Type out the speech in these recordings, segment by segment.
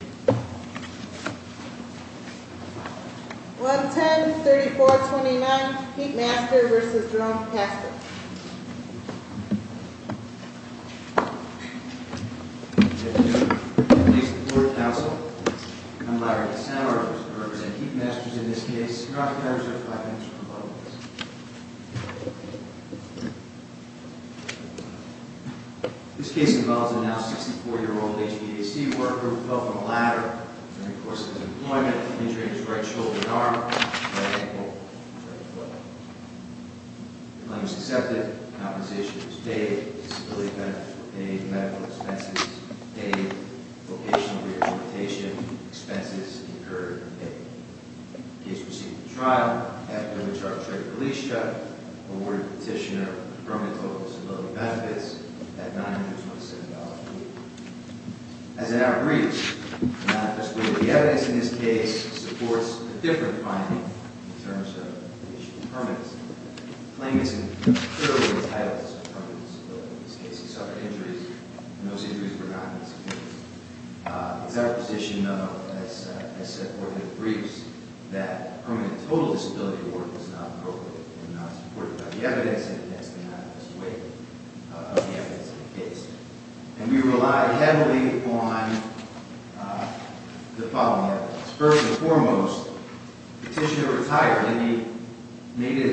110-3429, Heatmasters v. Jerome Caster Ladies and gentlemen, please report to counsel. I'm Larry Cassano, I represent Heatmasters in this case. Mr. Crosby, I reserve five minutes for rebuttals. This case involves a now 64-year-old HVAC worker who fell from a ladder during the course of his employment, injuring his right shoulder and arm, right ankle, and right foot. The claimant was accepted, compensation was paid, disability benefits were paid, medical expenses paid, vocational rehabilitation expenses incurred and paid. The case proceeded to trial, after which our attorney police chief awarded the petitioner a permanent total of disability benefits at $927 a week. As in our briefs, it manifests that the evidence in this case supports a different finding in terms of the issue of permanency. The claimant is incurably entitled to some permanent disability. In this case, he suffered injuries, and those injuries were not in his case. It's our position, as set forth in the briefs, that a permanent total disability award was not appropriate and not supported by the evidence and against the manifest weight of the evidence in the case. And we rely heavily on the following evidence. First and foremost, the petitioner retired, and he made a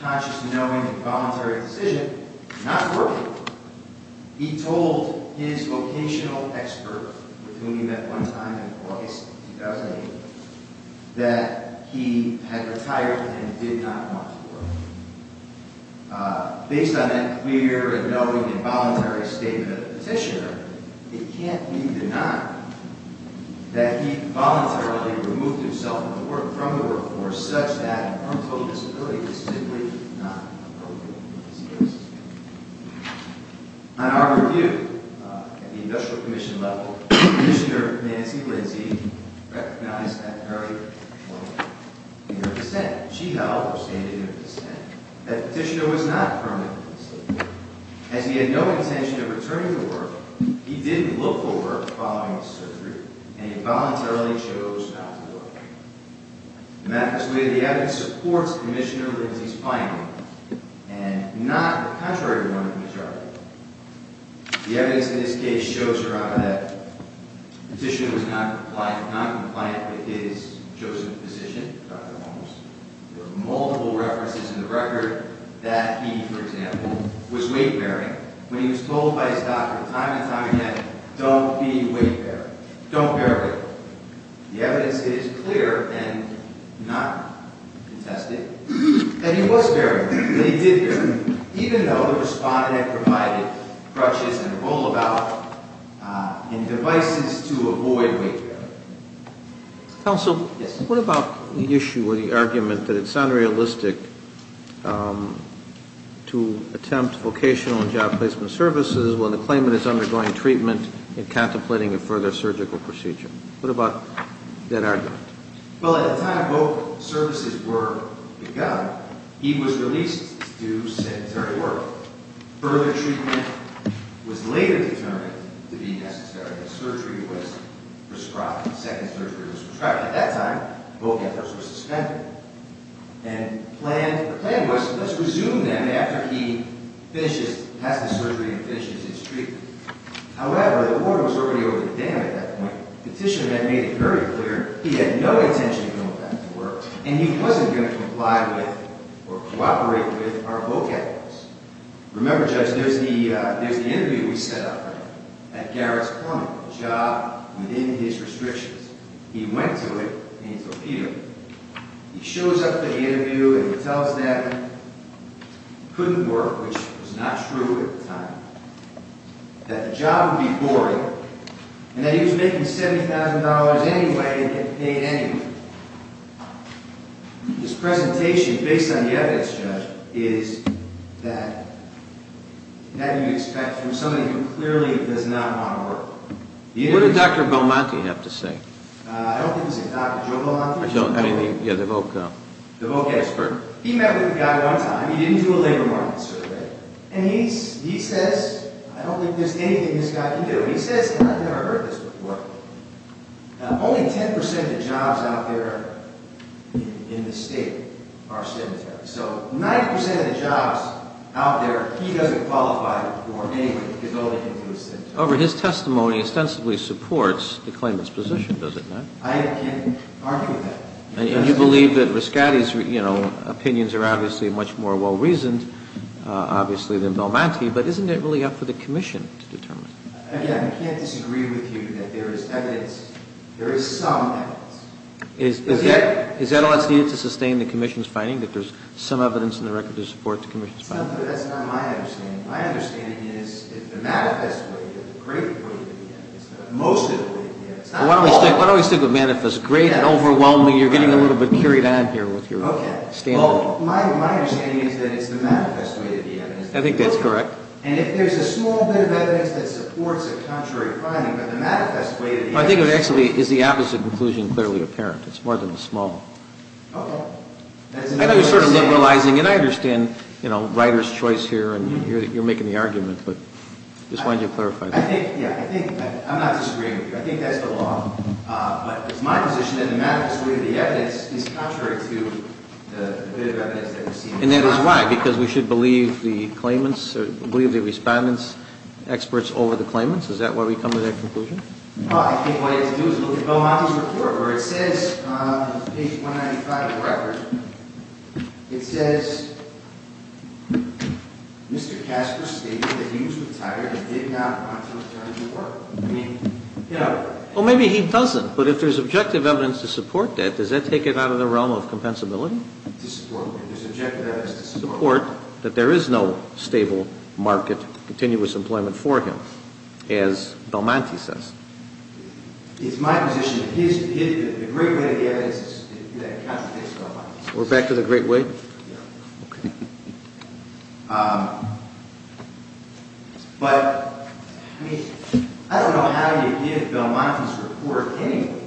conscious, knowing, and voluntary decision not to work. He told his vocational expert, with whom he met one time in August 2008, that he had retired and did not want to work. Based on that clear, knowing, and voluntary statement of the petitioner, it can't be denied that he voluntarily removed himself from the workforce such that a permanent total disability is simply not appropriate in this case. On our review, at the industrial commission level, Commissioner Nancy Lindsay recognized that very well in her dissent. She held, or stated in her dissent, that the petitioner was not permanently disabled. As he had no intention of returning to work, he didn't look for work following his surgery, and he voluntarily chose not to work. The manifest weight of the evidence supports Commissioner Lindsay's finding, and not the contrary one of the majority. The evidence in this case shows her on that the petitioner was noncompliant with his chosen physician, Dr. Holmes. There are multiple references in the record that he, for example, was weight-bearing when he was told by his doctor time and time again, don't be weight-bearing, don't bear weight. The evidence is clear and not contested, and he was bearing weight, and he did bear weight, even though the respondent provided crutches and a rollabout and devices to avoid weight-bearing. Counsel? Yes. What about the issue or the argument that it's unrealistic to attempt vocational and job placement services when the claimant is undergoing treatment and contemplating a further surgical procedure? What about that argument? Well, at the time both services were begun, he was released to sedentary work. Further treatment was later determined to be necessary. The surgery was prescribed. The second surgery was prescribed. At that time, both efforts were suspended. And the plan was, let's resume them after he has the surgery and finishes his treatment. However, the order was already over the dam at that point. The petitioner then made it very clear he had no intention of going back to work, and he wasn't going to comply with or cooperate with our vocations. Remember, Judge, there's the interview we set up at Garrett's appointment, a job within his restrictions. He went to it, and he told Peter, he shows up to the interview, and he tells them it couldn't work, which was not true at the time, that the job would be boring, and that he was making $70,000 anyway and getting paid anyway. This presentation, based on the evidence, Judge, is that you expect from somebody who clearly does not want to work. What did Dr. Belmonte have to say? I don't think he's a doctor. Joe Belmonte? Yeah, the voc expert. He met with the guy one time. He didn't do a labor market survey. And he says, I don't think there's anything this guy can do. He says, and I've never heard this before, only 10% of the jobs out there in the state are cemeteries. So 9% of the jobs out there, he doesn't qualify for anyway, because only he can do a cemetery. However, his testimony ostensibly supports the claimant's position, does it not? I can't argue with that. And you believe that Riscatti's opinions are obviously much more well-reasoned, obviously, than Belmonte, but isn't it really up for the commission to determine? Again, I can't disagree with you that there is evidence. There is some evidence. Is that all that's needed to sustain the commission's finding, that there's some evidence in the record to support the commission's finding? No, but that's not my understanding. My understanding is that the manifest way, the great way to begin, is most of the way to begin. Why don't we stick with manifest? Great and overwhelming, you're getting a little bit carried on here with your standard. My understanding is that it's the manifest way to begin. I think that's correct. And if there's a small bit of evidence that supports a contrary finding, but the manifest way to begin... I think it actually is the opposite conclusion clearly apparent. It's more than the small. Okay. I know you're sort of liberalizing, and I understand, you know, Ryder's choice here, and you're making the argument, but I just wanted you to clarify that. I think, yeah, I think, I'm not disagreeing with you. I think that's the law. But it's my position that the manifest way of the evidence is contrary to the bit of evidence that we're seeing. And that is why? Because we should believe the claimants, or believe the respondent's experts over the claimants? Is that why we come to that conclusion? Well, maybe he doesn't. But if there's objective evidence to support that, does that take it out of the realm of compensability? To support what? There's objective evidence to support that there is no stable market, continuous employment for him, as Belmonte says. It's my position that the great way of the evidence is that it contradicts Belmonte's. We're back to the great way? Yeah. Okay. But, I mean, I don't know how you give Belmonte's report anyway.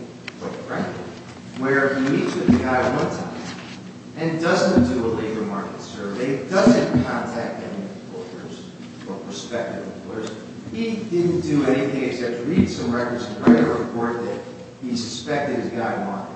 Where he meets with a guy one time and doesn't do a labor market survey, doesn't contact any employers, or prospective employers. He didn't do anything except read some records and write a report that he suspected his guy wanted.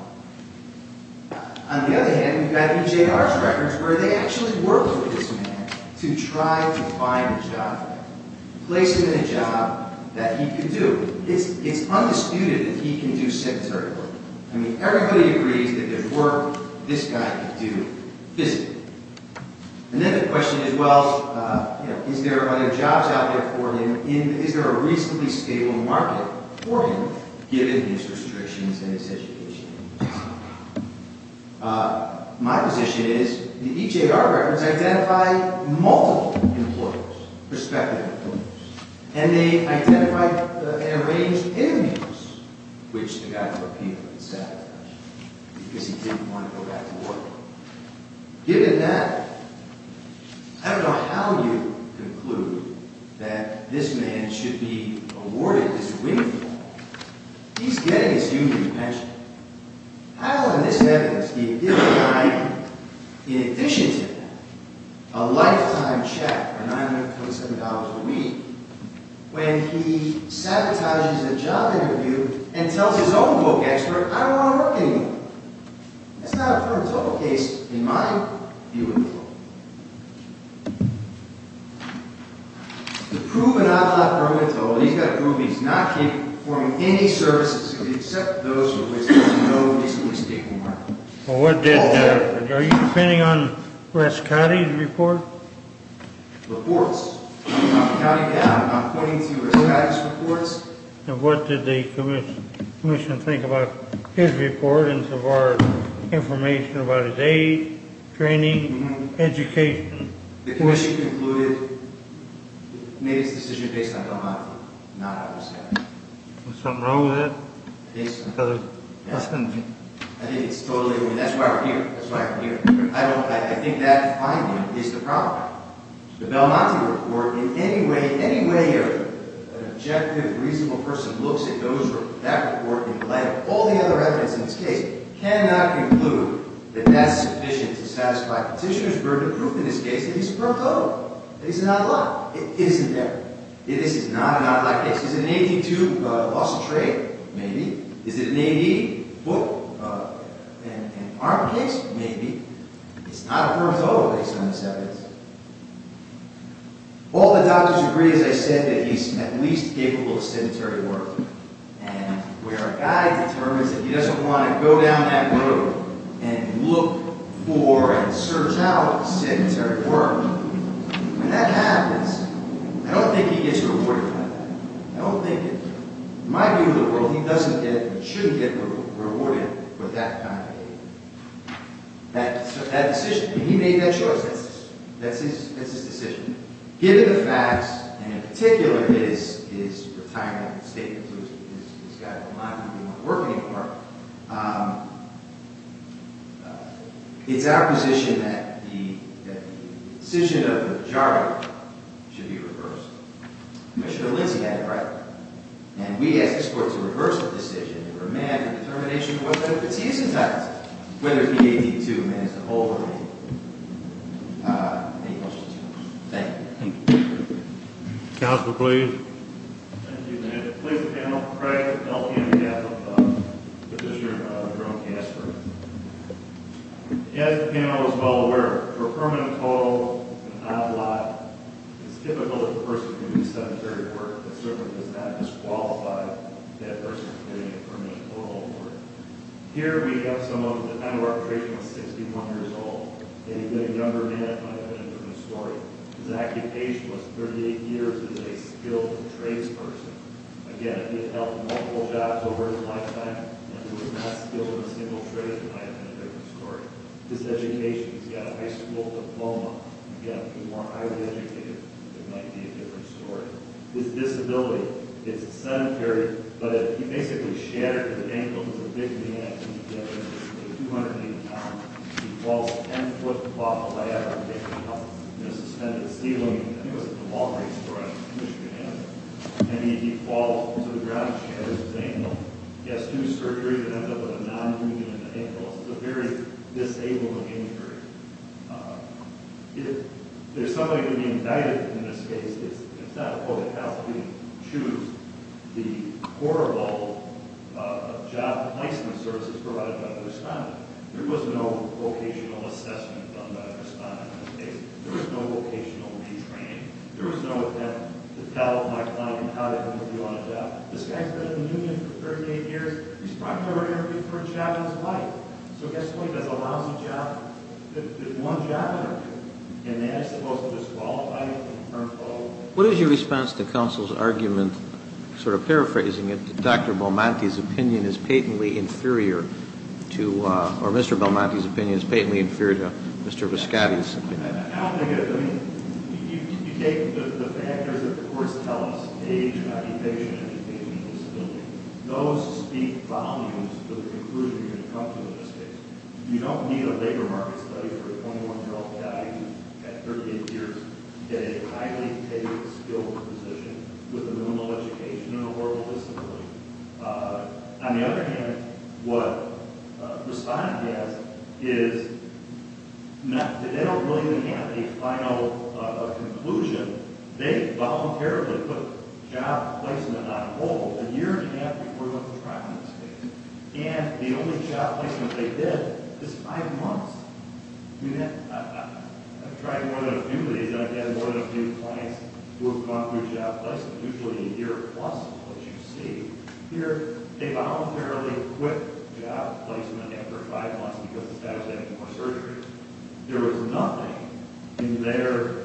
On the other hand, we've got EJR's records where they actually work with this man to try to find a job for him. Place him in a job that he could do. It's undisputed that he can do secretary work. I mean, everybody agrees that there's work this guy could do physically. And then the question is, well, is there a job out there for him? Is there a reasonably stable market for him, given his restrictions and his education? My position is, the EJR records identify multiple employers, prospective employers. And they identify and arrange interviews, which the guy in Burkina was sad about, because he didn't want to go back to work. Given that, I don't know how you conclude that this man should be awarded this winning call. He's getting his union pension. How, in this evidence, do you give the guy, in addition to that, a lifetime check of $927 a week, when he sabotages a job interview and tells his own book expert, I don't want to work anymore? That's not a permit total case, in my view, at all. The proven outlaw permit total, he's got to prove he's not performing any services, except those with which there's no reasonably stable market. Are you depending on Wes Cotty's report? Reports. I'm not counting down. I'm not pointing to Wes Cotty's reports. And what did the commission think about his report, and so far, information about his age, training, education? The commission concluded, made its decision based on Belmonti, not on the statute. Was something wrong with that? Based on the statute, yes. I think it's totally, I mean, that's why we're here. That's why we're here. I think that finding is the problem. The Belmonti report, in any way, any way an objective, reasonable person looks at that report in light of all the other evidence in this case, cannot conclude that that's sufficient to satisfy petitioner's burden of proof in this case that he's a permit total, that he's an outlaw. It isn't there. This is not an outlaw case. Is it an AD2 loss of trade? Maybe. Is it an AD foot and arm case? Maybe. It's not a permit total based on this evidence. All the doctors agree, as I said, that he's at least capable of sedentary work. And where a guy determines that he doesn't want to go down that road and look for and search out sedentary work, when that happens, I don't think he gets rewarded for that. I don't think it does. In my view of the world, he doesn't get, shouldn't get rewarded for that kind of behavior. So that decision, when he made that choice, that's his decision. Given the facts, and in particular, his retirement statement, this guy, Belmonti, who we weren't working for, it's our position that the decision of the majority should be reversed. Commissioner Lindsey had it right. And we ask the court to reverse the decision for a man in determination of whether or not he's entitled to it. Whether it be AD2, a man who's an old lady. Any questions? Thank you. As the panel is well aware, for a permit total, an outlaw, it's difficult for a person to do sedentary work. It certainly does not disqualify that person from getting a permit total for it. Here we have someone, the time of our creation was 61 years old. And he was a younger man, but I have a different story. His active age was 38 years. He was a skilled tradesperson. Again, he had helped multiple jobs over his lifetime. And he was not skilled in a single trade, but I have a different story. His education, he's got a high school diploma. Again, if he weren't highly educated, it might be a different story. His disability, it's sedentary. But he basically shattered his ankle. He was a big man. He was 280 pounds. He falls 10 foot off a ladder. It's a suspended ceiling. I think it was at the Walgreens store in Michigan. And he falls to the ground and shatters his ankle. He has two surgeries that end up with a non-union in the ankle. It's a very disabling injury. If there's somebody to be indicted in this case, it's not the public health. We choose the horrible job placement services provided by the respondent. There was no vocational assessment done by the respondent in this case. There was no vocational retraining. There was no attempt to tell my client how they were going to do on a job. This guy's been in the union for 38 years. He's probably never been given a job in his life. So at this point, there's a lousy job. There's one job in there. And that's supposed to disqualify him in terms of- What is your response to counsel's argument, sort of paraphrasing it, that Dr. Belmonte's opinion is patently inferior to- or Mr. Belmonte's opinion is patently inferior to Mr. Viscotti's opinion? I don't think it is. I mean, you take the factors that, of course, helps age, occupation, education, and disability. Those speak volumes to the conclusion you're going to come to in this case. You don't need a labor market study for a 21-year-old guy who's got 38 years to get a highly tailored skill position with a minimal education and a horrible disability. On the other hand, what the respondent has is- they don't really have a final conclusion. They voluntarily put a job placement on hold a year and a half before the trial in this case. And the only job placement they did is five months. I mean, I've tried more than a few of these, and I've had more than a few clients who have gone through a job placement, usually a year plus, as you see. Here, they voluntarily quit job placement after five months because the status of having more surgeries. There was nothing in their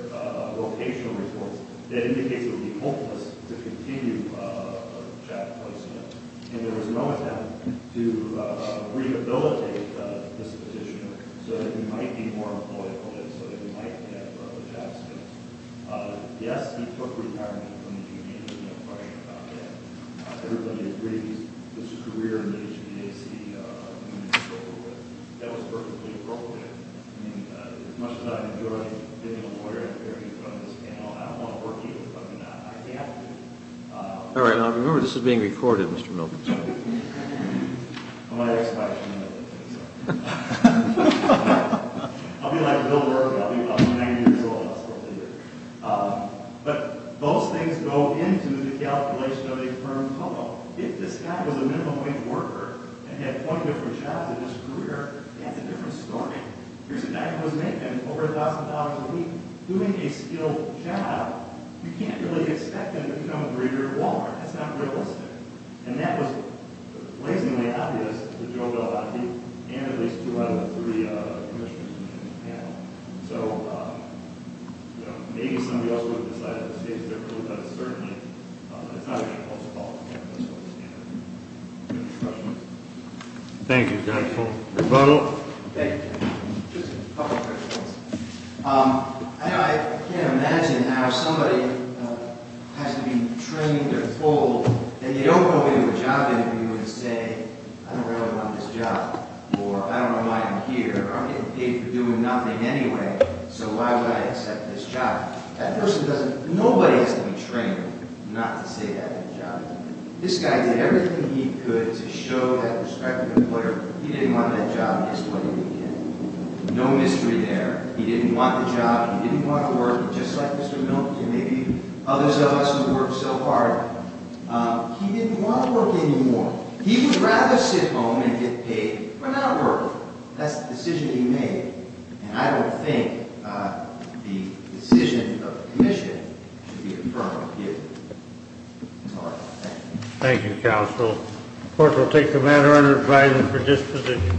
vocational reports that indicates it would be hopeless to continue a job placement. And there was no attempt to rehabilitate this petitioner so that he might be more employable and so that he might get a job placement. Yes, he took retirement from the union. There's no question about that. Everybody agrees that his career in the HBAC union is over with. That was perfectly appropriate. I mean, as much as I enjoy getting a lawyer to hear me from this panel, I don't want to work here, but I have to. All right, now remember, this is being recorded, Mr. Milken. I'm going to ask a question, and then I'm going to take this off. I'll be like Bill Rourke. I'll be about 90 years old. I'll still be here. But those things go into the calculation of a firm COBO. If this guy was a minimum-wage worker and had 20 different jobs in his career, that's a different story. Here's a guy who was making over $1,000 a week doing a skilled job. You can't really expect him to become a breeder at Walmart. That's not realistic. And that was blazingly obvious to Joe Bellati and at least two out of the three commissioners in the panel. So, you know, maybe somebody else would have decided this case differently, but certainly it's not even a close call. That's what I'm standing for. Any other questions? Thank you, counsel. Rebuttal? Thank you, counsel. Just a couple of questions. I can't imagine how somebody has to be trained or told that they don't go into a job interview and say, I don't really want this job, or I don't know why I'm here, or I'm getting paid for doing nothing anyway, so why would I accept this job? That person doesn't. Nobody has to be trained not to say they have a job interview. This guy did everything he could to show that prospective employer he didn't want that job. This is what he did. No mystery there. He didn't want the job. He didn't want to work, just like Mr. Milton and maybe others of us who work so hard. He didn't want to work anymore. He would rather sit home and get paid for not working. That's the decision he made, and I don't think the decision of the commission should be affirmed here. All right. Thank you. Thank you, counsel. The court will take the matter under advisement for disposition.